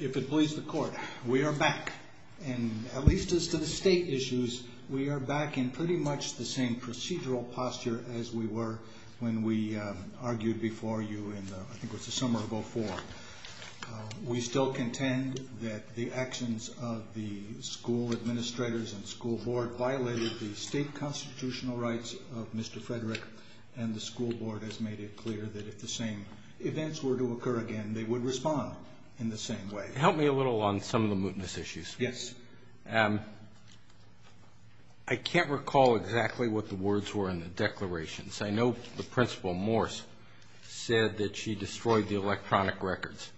If it pleases the court, we are back, and at least as to the state issues, we are back in pretty much the same procedural posture as we were when we argued before you in, I think it was the summer of 2004. We still contend that the actions of the school administrators and school board violated the state constitutional rights of Mr. Frederick, and the school board has made it clear that if the same events were to occur again, they would respond in the same way. Help me a little on some of the mootness issues. Yes. I can't recall exactly what the words were in the declarations. I know the principal, Morse, said that she destroyed the electronic records.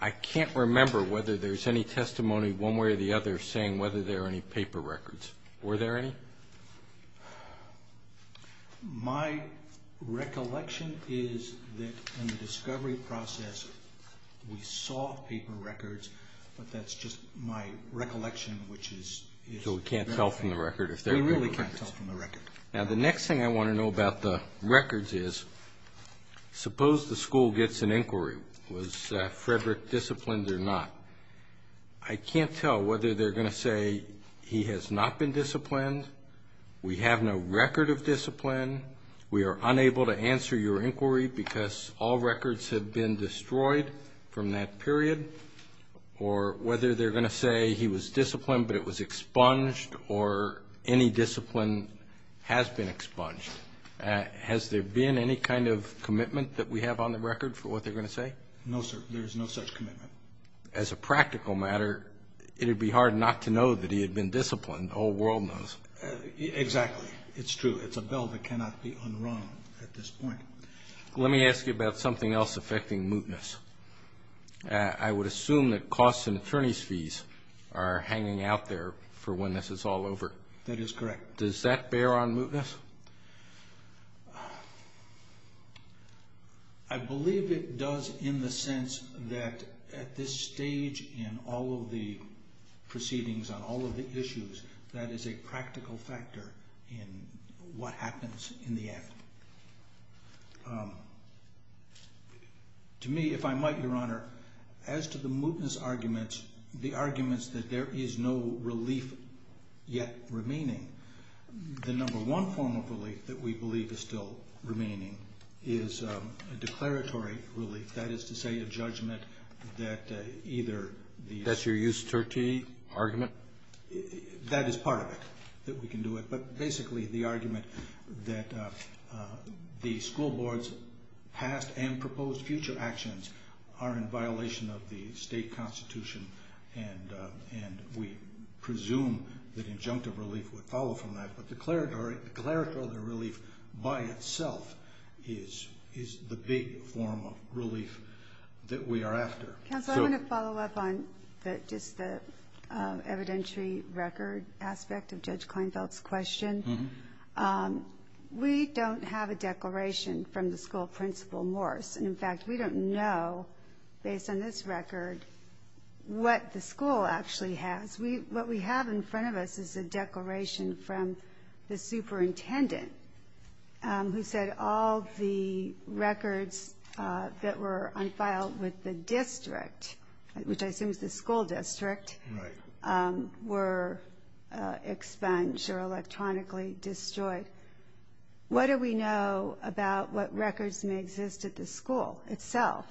I can't remember whether there's any testimony one way or the other saying whether there are any paper records. Were there any? My recollection is that in the discovery process, we saw paper records, but that's just my recollection, which is... So we can't tell from the record if there are paper records. We really can't tell from the record. Now, the next thing I want to know about the records is suppose the school gets an inquiry. Was Frederick disciplined or not? I can't tell whether they're going to say he has not been disciplined, we have no record of discipline, we are unable to answer your inquiry because all records have been destroyed from that period, or whether they're going to say he was disciplined but it was expunged or any discipline has been expunged. Has there been any kind of commitment that we have on the record for what they're going to say? No, sir. There is no such commitment. As a practical matter, it would be hard not to know that he had been disciplined. The whole world knows. Exactly. It's true. It's a bell that cannot be unrung at this point. Let me ask you about something else affecting mootness. I would assume that costs and attorney's fees are hanging out there for when this is all over. That is correct. Does that bear on mootness? I believe it does in the sense that at this stage in all of the proceedings on all of the issues, that is a practical factor in what happens in the end. To me, if I might, Your Honor, as to the mootness arguments, the arguments that there is no relief yet remaining, the number one form of relief that we believe is still remaining is a declaratory relief, that is to say a judgment that either the- That's your Eusterty argument? That is part of it, that we can do it, but basically the argument that the school board's past and proposed future actions are in violation of the state constitution, and we presume that injunctive relief would follow from that, but declaratory relief by itself is the big form of relief that we are after. Counsel, I want to follow up on just the evidentiary record aspect of Judge Kleinfeld's question. We don't have a declaration from the school principal, Morse, and, in fact, we don't know, based on this record, what the school actually has. What we have in front of us is a declaration from the superintendent who said all the records that were unfiled with the district, which I assume is the school district, were expunged or electronically destroyed. What do we know about what records may exist at the school itself?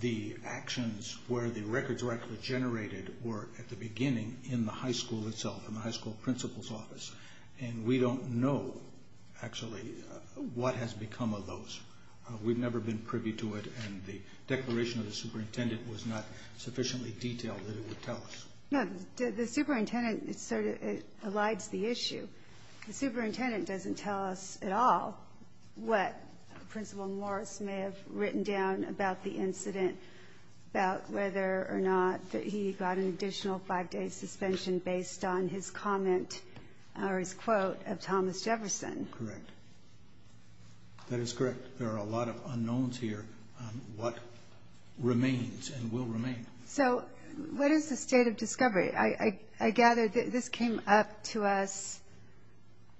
The actions where the records were actually generated were, at the beginning, in the high school itself, in the high school principal's office, and we don't know, actually, what has become of those. We've never been privy to it, and the declaration of the superintendent was not sufficiently detailed that it would tell us. No, the superintendent sort of elides the issue. The superintendent doesn't tell us at all what Principal Morse may have written down about the incident, about whether or not he got an additional 5-day suspension based on his comment or his quote of Thomas Jefferson. Correct. That is correct. There are a lot of unknowns here on what remains and will remain. So what is the state of discovery? I gather this came up to us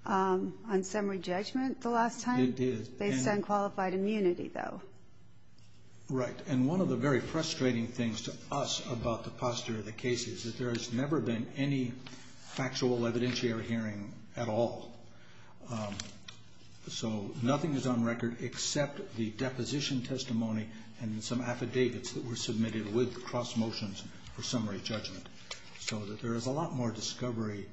on summary judgment the last time? It did. Based on qualified immunity, though. Right. And one of the very frustrating things to us about the posture of the case is that there has never been any factual evidentiary hearing at all. So nothing is on record except the deposition testimony and some affidavits that were submitted with cross motions for summary judgment. So there is a lot more discovery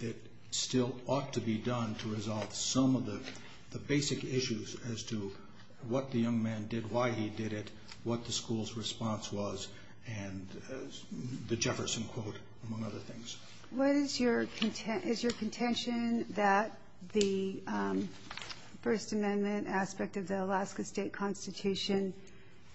that still ought to be done to resolve some of the basic issues as to what the young man did, why he did it, what the school's response was, and the Jefferson quote, among other things. What is your contention that the First Amendment aspect of the Alaska State Constitution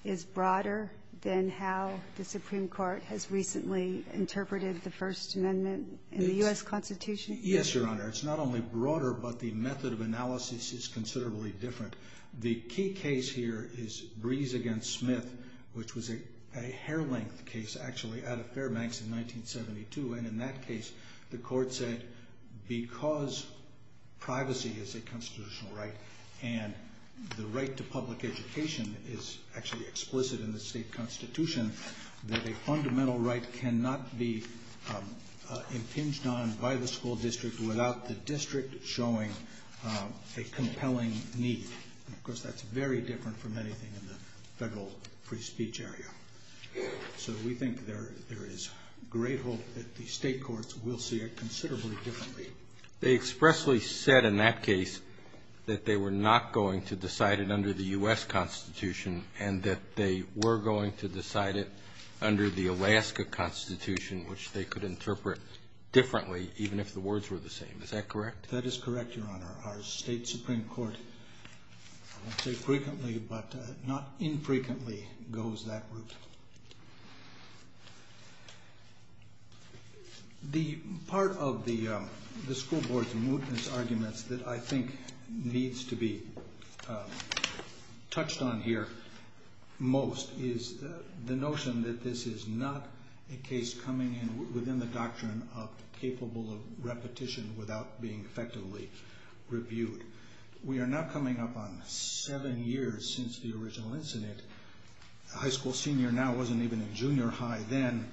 is broader than how the Supreme Court has recently interpreted the First Amendment in the U.S. Constitution? Yes, Your Honor. It's not only broader, but the method of analysis is considerably different. The key case here is Brees v. Smith, which was a hair-length case actually out of Fairbanks in 1972, and in that case the court said because privacy is a constitutional right and the right to public education is actually explicit in the state constitution, that a fundamental right cannot be impinged on by the school district without the district showing a compelling need. Of course, that's very different from anything in the federal free speech area. So we think there is great hope that the state courts will see it considerably differently. They expressly said in that case that they were not going to decide it under the U.S. Constitution and that they were going to decide it under the Alaska Constitution, which they could interpret differently even if the words were the same. Is that correct? That is correct, Your Honor. Our state Supreme Court, I won't say frequently, but not infrequently goes that route. The part of the school board's mootness arguments that I think needs to be touched on here most is the notion that this is not a case coming in within the doctrine of capable of repetition without being effectively reviewed. We are now coming up on seven years since the original incident. The high school senior now wasn't even in junior high then.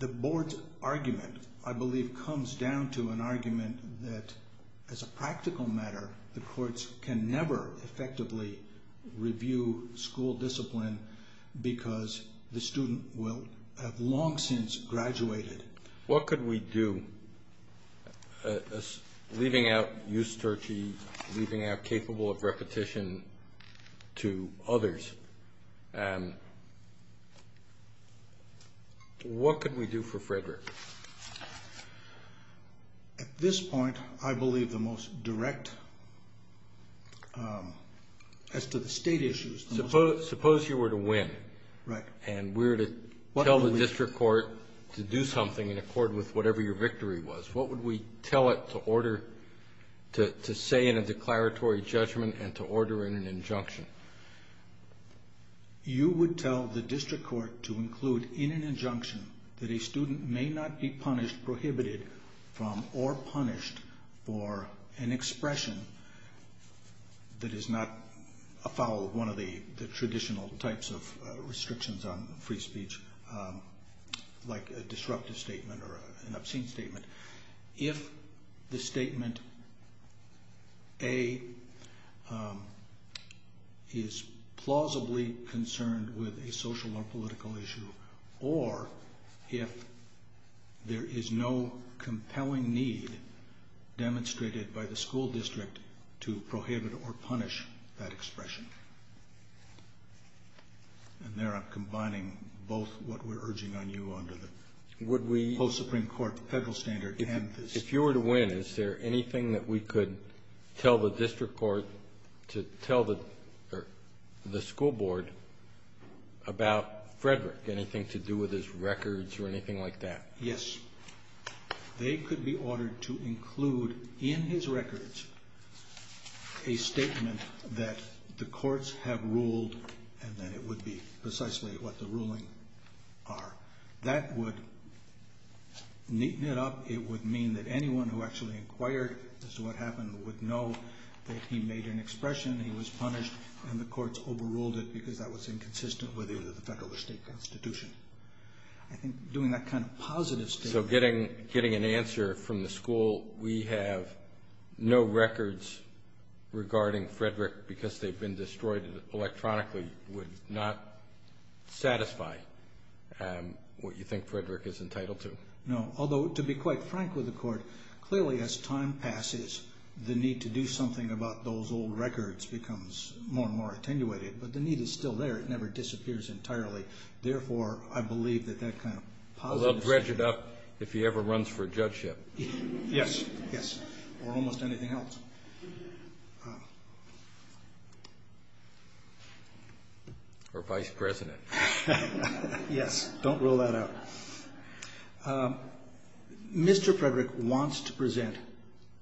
The board's argument, I believe, comes down to an argument that as a practical matter, the courts can never effectively review school discipline because the student will have long since graduated. What could we do? Leaving out Eusterche, leaving out capable of repetition to others, what could we do for Frederick? At this point, I believe the most direct as to the state issues. Suppose you were to win. Right. And we were to tell the district court to do something in accord with whatever your victory was. What would we tell it to say in a declaratory judgment and to order in an injunction? You would tell the district court to include in an injunction that a student may not be punished, from or punished for an expression that is not a foul of one of the traditional types of restrictions on free speech, like a disruptive statement or an obscene statement. If the statement, A, is plausibly concerned with a social or political issue, or if there is no compelling need demonstrated by the school district to prohibit or punish that expression. And there I'm combining both what we're urging on you under the post-Supreme Court federal standard. If you were to win, is there anything that we could tell the district court to tell the school board about Frederick, anything to do with his records or anything like that? Yes. They could be ordered to include in his records a statement that the courts have ruled and that it would be precisely what the ruling are. That would neaten it up. It would mean that anyone who actually inquired as to what happened would know that he made an expression, he was punished, and the courts overruled it because that was inconsistent with either the federal or state constitution. I think doing that kind of positive statement... So getting an answer from the school, we have no records regarding Frederick because they've been destroyed electronically, would not satisfy what you think Frederick is entitled to? No. Although, to be quite frank with the court, clearly as time passes the need to do something about those old records becomes more and more attenuated, but the need is still there. It never disappears entirely. Therefore, I believe that that kind of positive statement... A little dredged up if he ever runs for judgeship. Yes. Yes. Or almost anything else. Or vice president. Yes. Don't rule that out. Mr. Frederick wants to present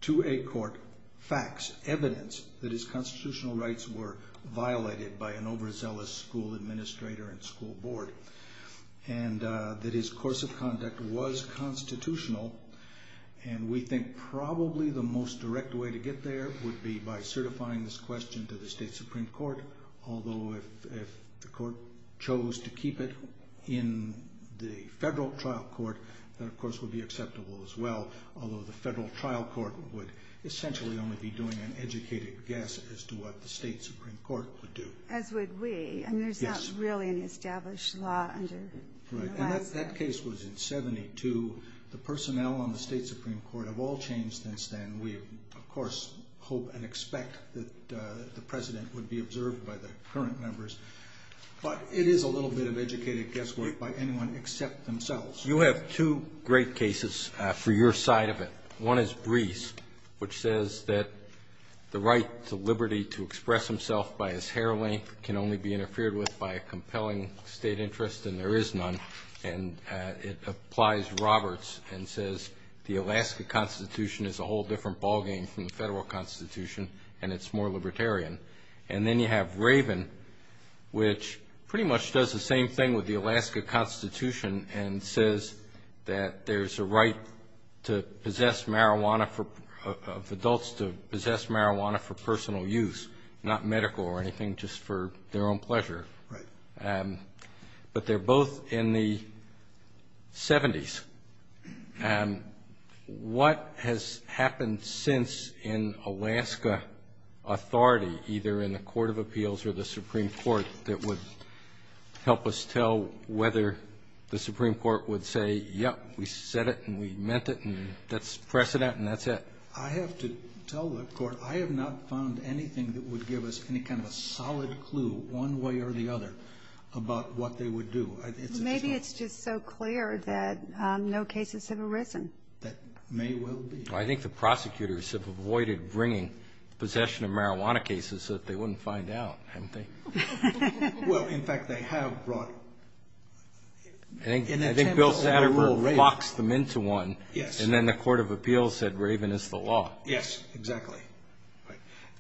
to a court facts, evidence, that his constitutional rights were violated by an overzealous school administrator and school board, and that his course of conduct was constitutional, and we think probably the most direct way to get there would be by certifying this question to the state supreme court, although if the court chose to keep it in the federal trial court, that of course would be acceptable as well, although the federal trial court would essentially only be doing an educated guess as to what the state supreme court would do. As would we. Yes. I mean, there's not really an established law under the last... Right. And that case was in 72. The personnel on the state supreme court have all changed since then. We, of course, hope and expect that the president would be observed by the current members, but it is a little bit of educated guesswork by anyone except themselves. You have two great cases for your side of it. One is Breese, which says that the right to liberty to express himself by his hair length can only be interfered with by a compelling state interest, and there is none. And it applies Roberts and says the Alaska Constitution is a whole different ballgame from the federal Constitution, and it's more libertarian. And then you have Raven, which pretty much does the same thing with the Alaska Constitution and says that there's a right of adults to possess marijuana for personal use, not medical or anything, just for their own pleasure. Right. But they're both in the 70s. What has happened since in Alaska authority, either in the Court of Appeals or the Supreme Court, that would help us tell whether the Supreme Court would say, yep, we said it and we meant it and that's precedent and that's it? I have to tell the Court I have not found anything that would give us any kind of a solid clue, one way or the other, about what they would do. Maybe it's just so clear that no cases have arisen. That may well be. I think the prosecutors have avoided bringing possession of marijuana cases so that they wouldn't find out, haven't they? Well, in fact, they have brought it. I think Bill Satterthwaite locks them into one. Yes. And then the Court of Appeals said Raven is the law. Yes, exactly.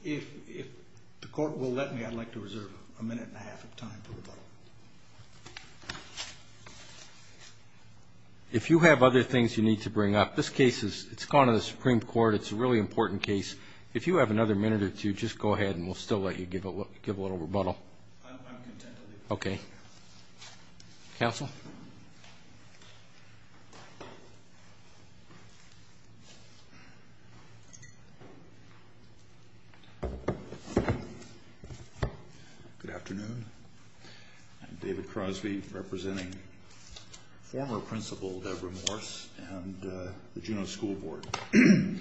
If the Court will let me, I'd like to reserve a minute and a half of time for rebuttal. If you have other things you need to bring up, this case has gone to the Supreme Court. It's a really important case. If you have another minute or two, just go ahead and we'll still let you give a little rebuttal. I'm content to do that. Okay. Counsel? Good afternoon. I'm David Crosby, representing former Principal Debra Morse and the Juneau School Board. I'd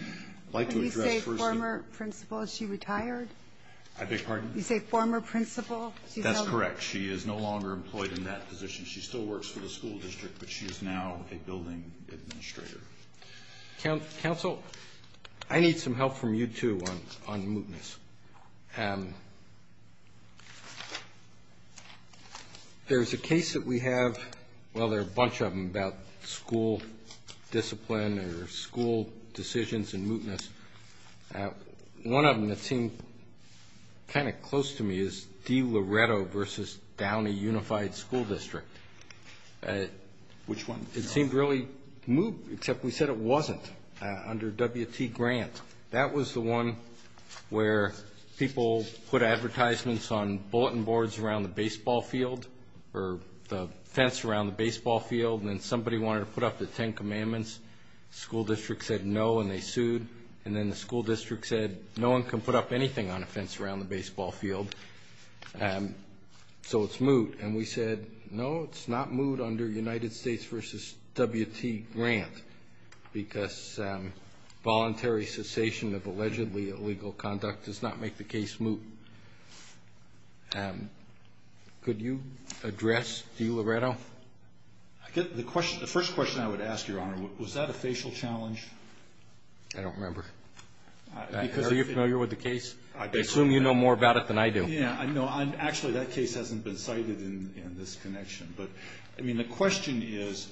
like to address first the ---- When you say former principal, is she retired? I beg your pardon? You say former principal? That's correct. She is no longer employed in that position. She still works for the school district, but she is now a building administrator. Counsel, I need some help from you, too, on mootness. There's a case that we have, well, there are a bunch of them, about school discipline or school decisions and mootness. One of them that seemed kind of close to me is DiLoretto v. Downey Unified School District. Which one? It seemed really moot, except we said it wasn't under W.T. Grant. That was the one where people put advertisements on bulletin boards around the baseball field or the fence around the baseball field, and then somebody wanted to put up the Ten Commandments. The school district said no, and they sued. And then the school district said no one can put up anything on a fence around the baseball field, so it's moot. And we said no, it's not moot under United States v. W.T. Grant because voluntary cessation of allegedly illegal conduct does not make the case moot. Could you address DiLoretto? The first question I would ask, Your Honor, was that a facial challenge? I don't remember. Are you familiar with the case? I assume you know more about it than I do. Yeah, I know. Actually, that case hasn't been cited in this connection. But, I mean, the question is,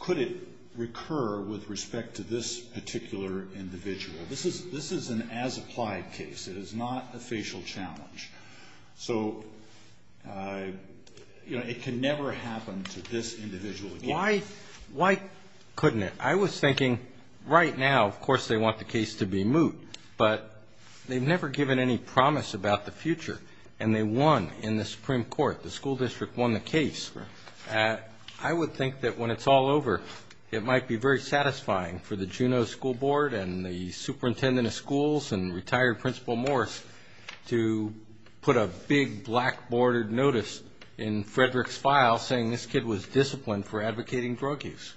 could it recur with respect to this particular individual? This is an as-applied case. It is not a facial challenge. So, you know, it can never happen to this individual again. Why couldn't it? I was thinking right now, of course, they want the case to be moot, but they've never given any promise about the future, and they won in the Supreme Court. The school district won the case. I would think that when it's all over, it might be very satisfying for the Juneau School Board and the superintendent of schools and retired Principal Morris to put a big black-bordered notice in Frederick's file saying this kid was disciplined for advocating drug use.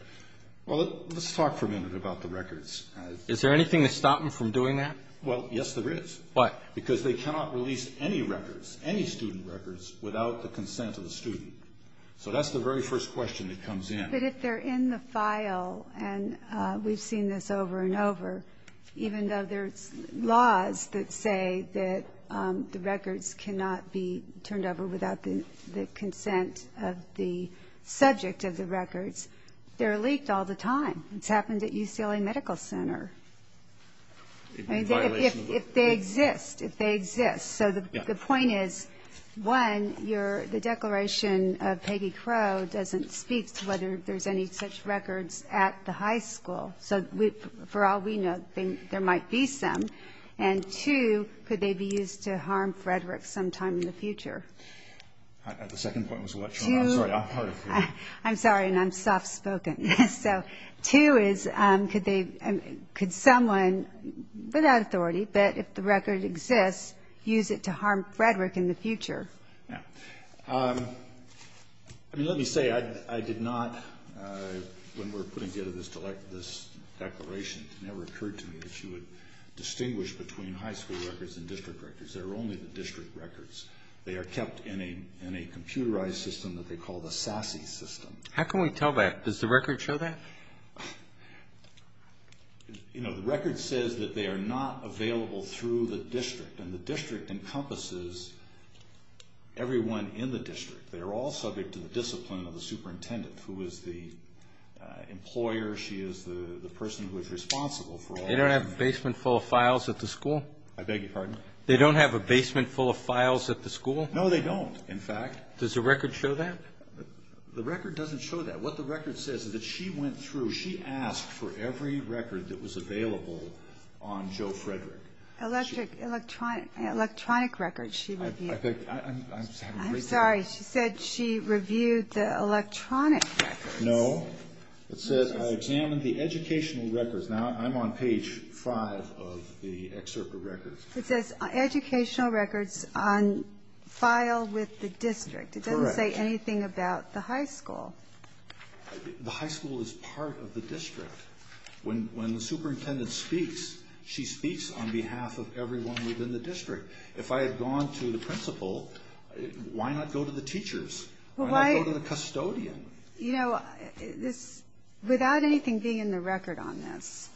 Well, let's talk for a minute about the records. Is there anything to stop them from doing that? Well, yes, there is. Why? Because they cannot release any records, any student records, without the consent of the student. So that's the very first question that comes in. But if they're in the file, and we've seen this over and over, even though there's laws that say that the records cannot be turned over without the consent of the subject of the records, they're leaked all the time. It's happened at UCLA Medical Center. I mean, if they exist, if they exist. So the point is, one, the declaration of Peggy Crow doesn't speak to whether there's any such records at the high school. So for all we know, there might be some. And, two, could they be used to harm Frederick sometime in the future? The second point was what, Sharma? I'm sorry, I'm hard of hearing. I'm sorry, and I'm soft-spoken. So two is, could someone, without authority, but if the record exists, use it to harm Frederick in the future? Yeah. I mean, let me say, I did not, when we were putting together this declaration, it never occurred to me that you would distinguish between high school records and district records. They're only the district records. They are kept in a computerized system that they call the SASE system. How can we tell that? Does the record show that? You know, the record says that they are not available through the district, and the district encompasses everyone in the district. They are all subject to the discipline of the superintendent, who is the employer. She is the person who is responsible for all that. They don't have a basement full of files at the school? I beg your pardon? They don't have a basement full of files at the school? No, they don't, in fact. Does the record show that? The record doesn't show that. What the record says is that she went through, she asked for every record that was available on Joe Frederick. Electronic records, she reviewed. I'm sorry, she said she reviewed the electronic records. No. It says, I examined the educational records. Now, I'm on page five of the excerpt of records. It says educational records on file with the district. It doesn't say anything about the high school. The high school is part of the district. When the superintendent speaks, she speaks on behalf of everyone within the district. If I had gone to the principal, why not go to the teachers? Why not go to the custodian? You know, without anything being in the record on this,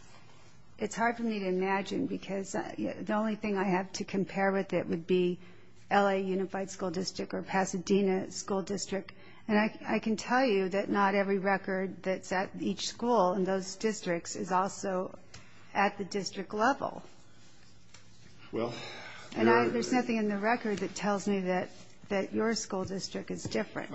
it's hard for me to imagine because the only thing I have to compare with it would be L.A. Unified School District or Pasadena School District. And I can tell you that not every record that's at each school in those districts is also at the district level. And there's nothing in the record that tells me that your school district is different.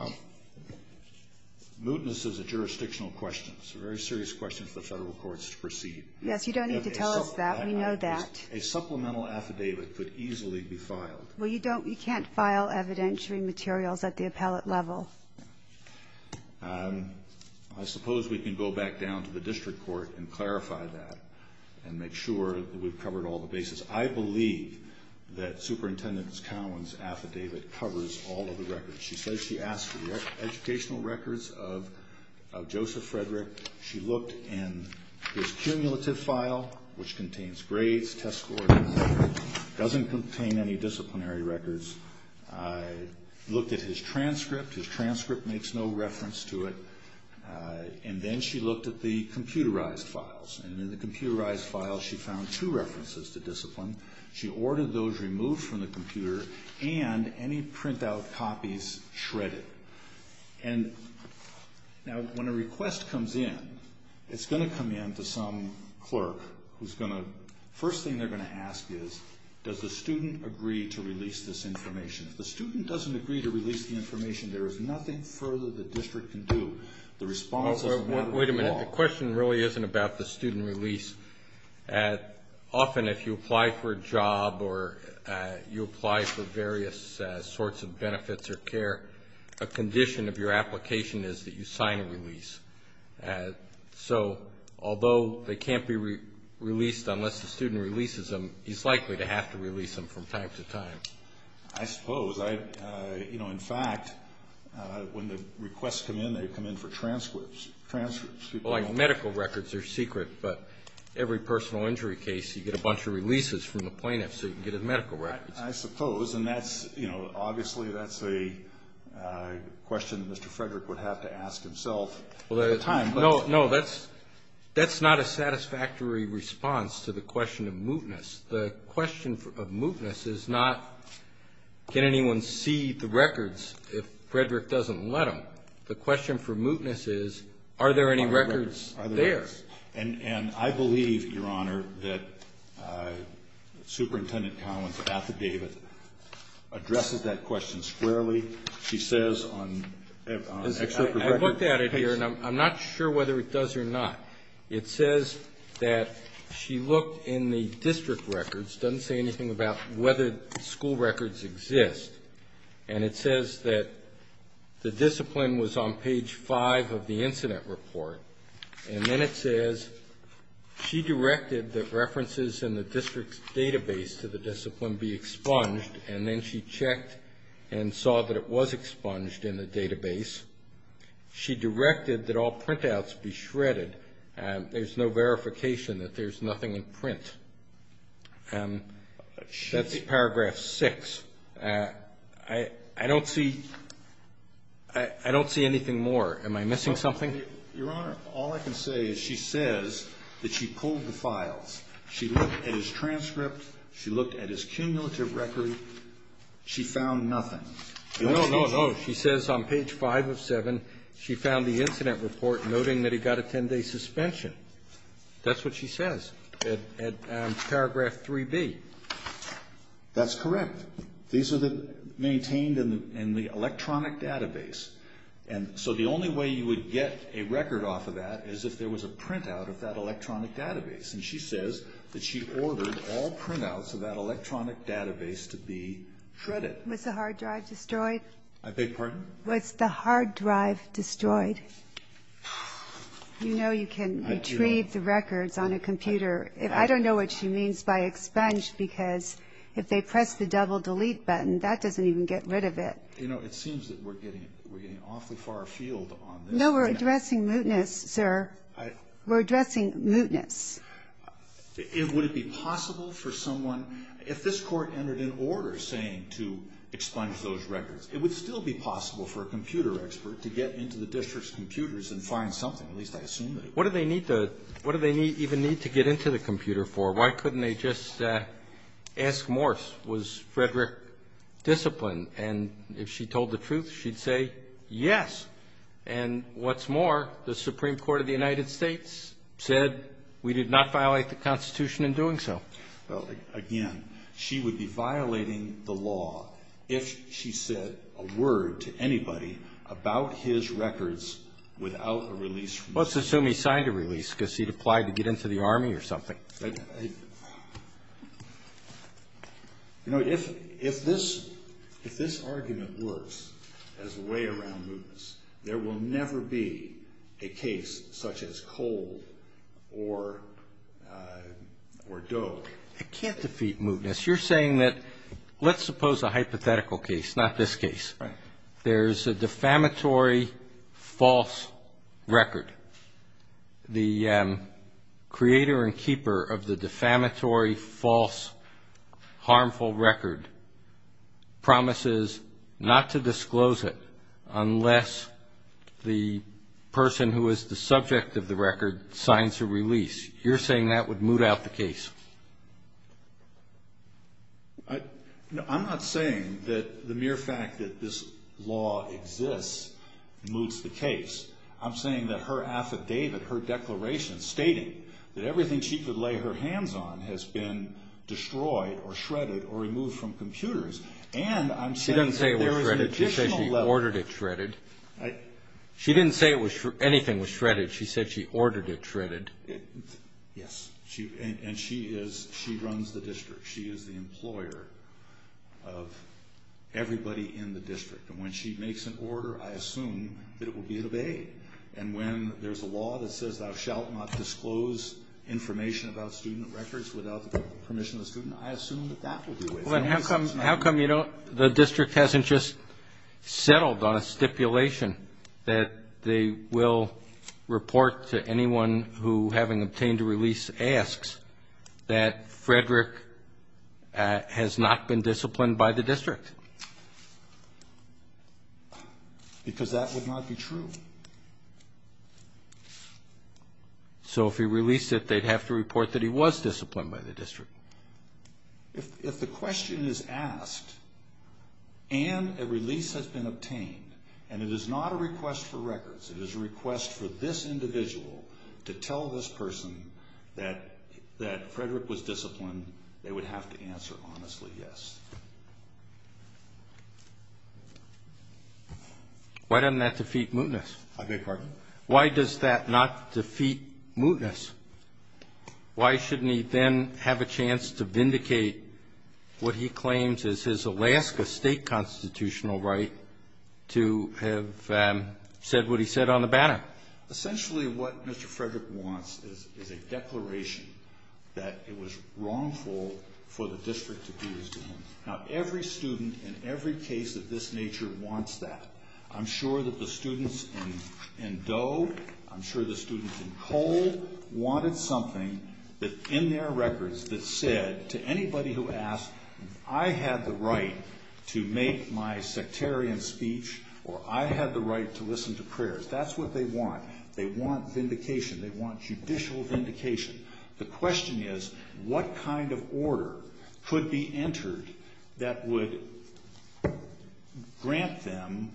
Muteness is a jurisdictional question. It's a very serious question for the federal courts to proceed. Yes, you don't need to tell us that. We know that. A supplemental affidavit could easily be filed. Well, you can't file evidentiary materials at the appellate level. I suppose we can go back down to the district court and clarify that and make sure that we've covered all the bases. I believe that Superintendent Cowan's affidavit covers all of the records. She says she asked for the educational records of Joseph Frederick. She looked in his cumulative file, which contains grades, test scores, doesn't contain any disciplinary records. Looked at his transcript. His transcript makes no reference to it. And then she looked at the computerized files. And in the computerized files, she found two references to discipline. She ordered those removed from the computer and any printout copies shredded. And now when a request comes in, it's going to come in to some clerk who's going to – first thing they're going to ask is, does the student agree to release this information? If the student doesn't agree to release the information, there is nothing further the district can do. The response is – Wait a minute. The question really isn't about the student release. Often if you apply for a job or you apply for various sorts of benefits or care, a condition of your application is that you sign a release. So although they can't be released unless the student releases them, he's likely to have to release them from time to time. I suppose. In fact, when the requests come in, they come in for transcripts. Well, like medical records are secret, but every personal injury case you get a bunch of releases from the plaintiff so you can get a medical record. I suppose. And that's, you know, obviously that's a question Mr. Frederick would have to ask himself at the time. No, that's not a satisfactory response to the question of mootness. The question of mootness is not can anyone see the records if Frederick doesn't let them. The question for mootness is are there any records there? And I believe, Your Honor, that Superintendent Collins' affidavit addresses that question squarely. She says on excerpt of records. I looked at it here, and I'm not sure whether it does or not. It says that she looked in the district records. It doesn't say anything about whether school records exist. And it says that the discipline was on page five of the incident report. And then it says she directed that references in the district's database to the discipline be expunged, and then she checked and saw that it was expunged in the database. She directed that all printouts be shredded. There's no verification that there's nothing in print. That's paragraph six. I don't see anything more. Am I missing something? Your Honor, all I can say is she says that she pulled the files. She looked at his transcript. She looked at his cumulative record. She found nothing. No, no, no. She says on page five of seven she found the incident report noting that he got a 10-day suspension. That's what she says. Paragraph 3B. That's correct. These are maintained in the electronic database. And so the only way you would get a record off of that is if there was a printout of that electronic database. And she says that she ordered all printouts of that electronic database to be shredded. Was the hard drive destroyed? I beg your pardon? Was the hard drive destroyed? You know you can retrieve the records on a computer. I don't know what she means by expunged because if they press the double delete button, that doesn't even get rid of it. You know, it seems that we're getting awfully far afield on this. No, we're addressing mootness, sir. We're addressing mootness. Would it be possible for someone, if this Court entered an order saying to expunge those records, it would still be possible for a computer expert to get into the district's computers and find something? At least I assume they would. What do they even need to get into the computer for? Why couldn't they just ask Morse? Was Frederick disciplined? And if she told the truth, she'd say yes. And what's more, the Supreme Court of the United States said we did not violate the Constitution in doing so. Well, again, she would be violating the law if she said a word to anybody about his records without a release. Let's assume he signed a release because he'd applied to get into the Army or something. You know, if this argument works as a way around mootness, there will never be a case such as Cole or Doak. It can't defeat mootness. You're saying that let's suppose a hypothetical case, not this case. Right. There's a defamatory false record. The creator and keeper of the defamatory false harmful record promises not to disclose it unless the person who is the subject of the record signs a release. You're saying that would moot out the case. I'm not saying that the mere fact that this law exists moots the case. I'm saying that her affidavit, her declaration stating that everything she could lay her hands on has been destroyed or shredded or removed from computers. And I'm saying that there is an additional level. She didn't say it was shredded. She said she ordered it shredded. She didn't say anything was shredded. She said she ordered it shredded. Yes. And she runs the district. She is the employer of everybody in the district. And when she makes an order, I assume that it will be obeyed. And when there's a law that says thou shalt not disclose information about student records without the permission of the student, I assume that that will be waived. How come the district hasn't just settled on a stipulation that they will report to anyone who, having obtained a release, asks that Frederick has not been disciplined by the district? Because that would not be true. So if he released it, they'd have to report that he was disciplined by the district. If the question is asked and a release has been obtained, and it is not a request for records, it is a request for this individual to tell this person that Frederick was disciplined, they would have to answer honestly yes. Why doesn't that defeat mootness? I beg your pardon? Why does that not defeat mootness? Why shouldn't he then have a chance to vindicate what he claims is his Alaska State constitutional right to have said what he said on the banner? Essentially what Mr. Frederick wants is a declaration that it was wrongful for the district to do this to him. Now, every student in every case of this nature wants that. I'm sure that the students in Doe, I'm sure the students in Cole, wanted something that in their records that said to anybody who asked, I had the right to make my sectarian speech or I had the right to listen to prayers. That's what they want. They want vindication. They want judicial vindication. The question is, what kind of order could be entered that would grant them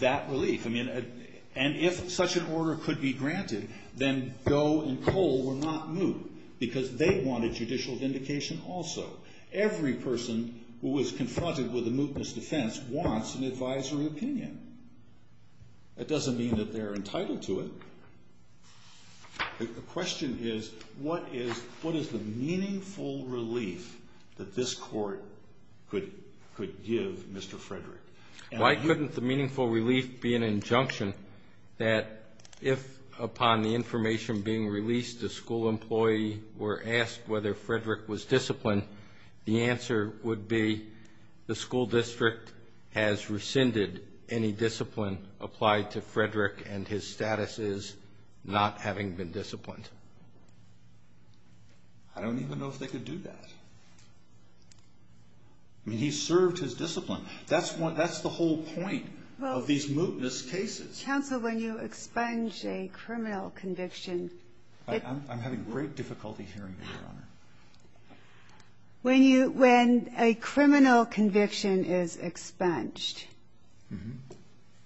that relief? If such an order could be granted, then Doe and Cole were not moot because they wanted judicial vindication also. Every person who was confronted with a mootness defense wants an advisory opinion. That doesn't mean that they're entitled to it. The question is, what is the meaningful relief that this court could give Mr. Frederick? Why couldn't the meaningful relief be an injunction that if upon the information being released, a school employee were asked whether Frederick was disciplined, the answer would be the school district has rescinded any discipline applied to Frederick and his status is not having been disciplined. I don't even know if they could do that. He served his discipline. That's the whole point of these mootness cases. Counsel, when you expunge a criminal conviction. I'm having great difficulty hearing you, Your Honor. When a criminal conviction is expunged,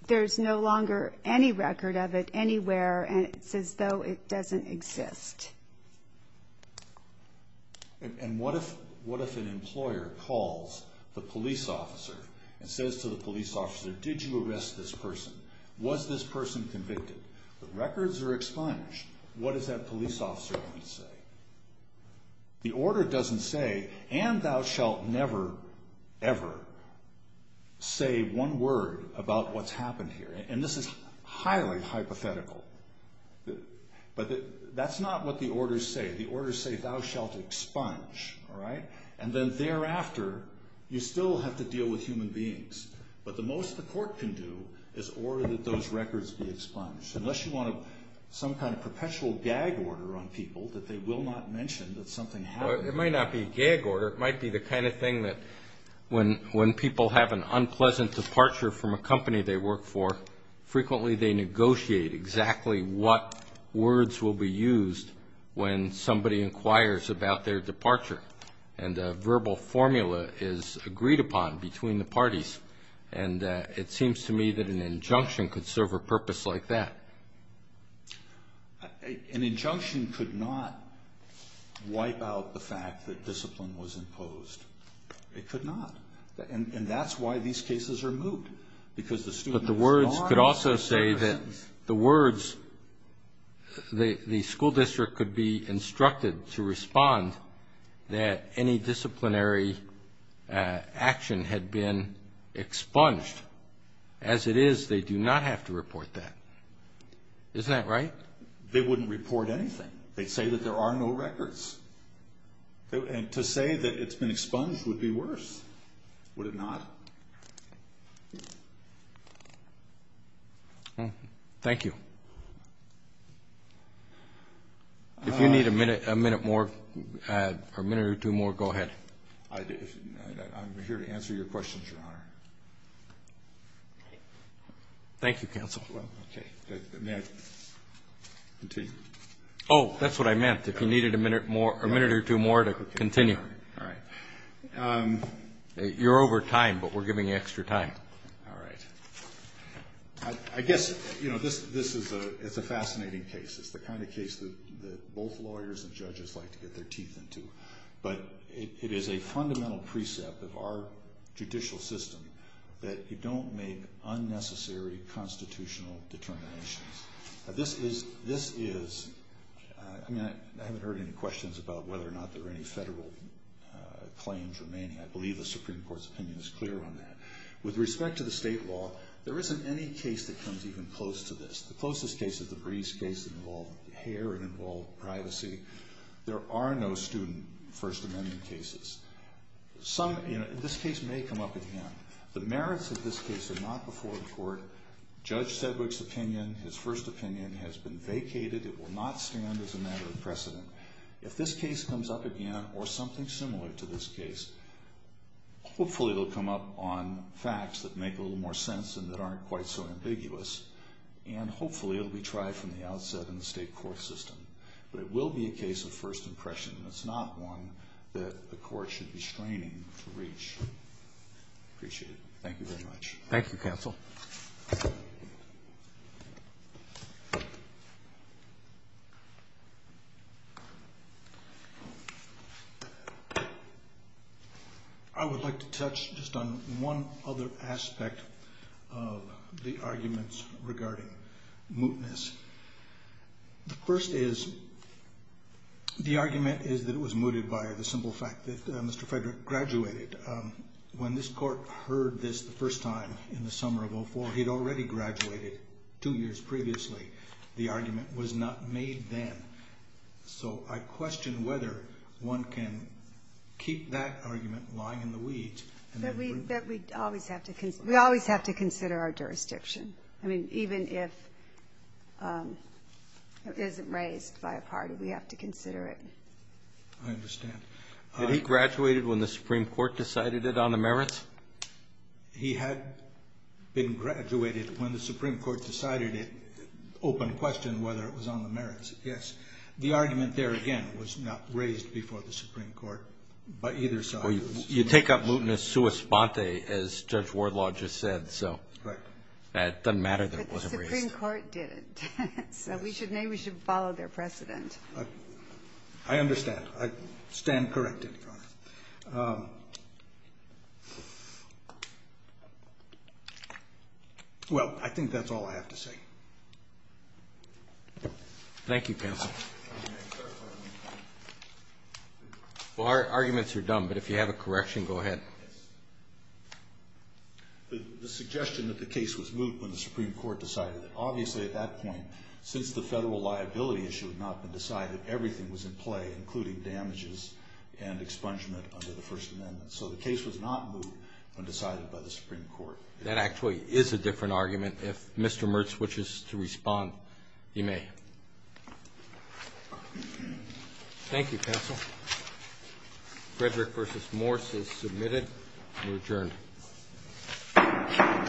there's no longer any record of it anywhere, and it's as though it doesn't exist. And what if an employer calls the police officer and says to the police officer, did you arrest this person? Was this person convicted? The records are expunged. What does that police officer need to say? The order doesn't say, and thou shalt never, ever say one word about what's happened here. And this is highly hypothetical. But that's not what the orders say. The orders say thou shalt expunge, all right? And then thereafter, you still have to deal with human beings. But the most the court can do is order that those records be expunged. Unless you want some kind of perpetual gag order on people that they will not mention that something happened. It might not be a gag order. It might be the kind of thing that when people have an unpleasant departure from a company they work for, frequently they negotiate exactly what words will be used when somebody inquires about their departure. And a verbal formula is agreed upon between the parties. And it seems to me that an injunction could serve a purpose like that. An injunction could not wipe out the fact that discipline was imposed. It could not. And that's why these cases are moved. Because the student is not. But the words could also say that the words, the school district could be instructed to respond that any disciplinary action had been expunged. As it is, they do not have to report that. Isn't that right? They wouldn't report anything. They'd say that there are no records. And to say that it's been expunged would be worse, would it not? Thank you. If you need a minute or two more, go ahead. I'm here to answer your questions, Your Honor. Thank you, Counsel. Oh, that's what I meant. If you needed a minute or two more to continue. All right. You're over time, but we're giving you extra time. All right. I guess, you know, this is a fascinating case. It's the kind of case that both lawyers and judges like to get their teeth into. But it is a fundamental precept of our judicial system that you don't make unnecessary constitutional determinations. This is, I mean, I haven't heard any questions about whether or not there are any federal claims remaining. I believe the Supreme Court's opinion is clear on that. With respect to the state law, there isn't any case that comes even close to this. The closest case is the Breese case that involved hair and involved privacy. There are no student First Amendment cases. Some, you know, this case may come up again. The merits of this case are not before the court. Judge Sedgwick's opinion, his first opinion, has been vacated. It will not stand as a matter of precedent. If this case comes up again or something similar to this case, hopefully it will come up on facts that make a little more sense and that aren't quite so ambiguous. And hopefully it will be tried from the outset in the state court system. But it will be a case of first impression. It's not one that the court should be straining to reach. Appreciate it. Thank you very much. Thank you, counsel. I would like to touch just on one other aspect of the arguments regarding mootness. The first is the argument is that it was mooted by the simple fact that Mr. Frederick graduated. When this Court heard this the first time in the summer of 2004, he'd already graduated two years previously. The argument was not made then. So I question whether one can keep that argument lying in the weeds. But we always have to consider our jurisdiction. I mean, even if it isn't raised by a party, we have to consider it. I understand. Had he graduated when the Supreme Court decided it on the merits? He had been graduated when the Supreme Court decided it. Open question whether it was on the merits. Yes. The argument there, again, was not raised before the Supreme Court, but either side. Well, you take up mootness sua sponte, as Judge Wardlaw just said, so. Correct. It doesn't matter that it wasn't raised. But the Supreme Court did. So maybe we should follow their precedent. I understand. I stand corrected, Your Honor. Well, I think that's all I have to say. Thank you, counsel. Well, our arguments are done, but if you have a correction, go ahead. The suggestion that the case was moot when the Supreme Court decided it. Since the federal liability issue had not been decided, everything was in play, including damages and expungement under the First Amendment. So the case was not moot when decided by the Supreme Court. That actually is a different argument. If Mr. Mertz wishes to respond, he may. Thank you, counsel. Frederick v. Morse is submitted and adjourned.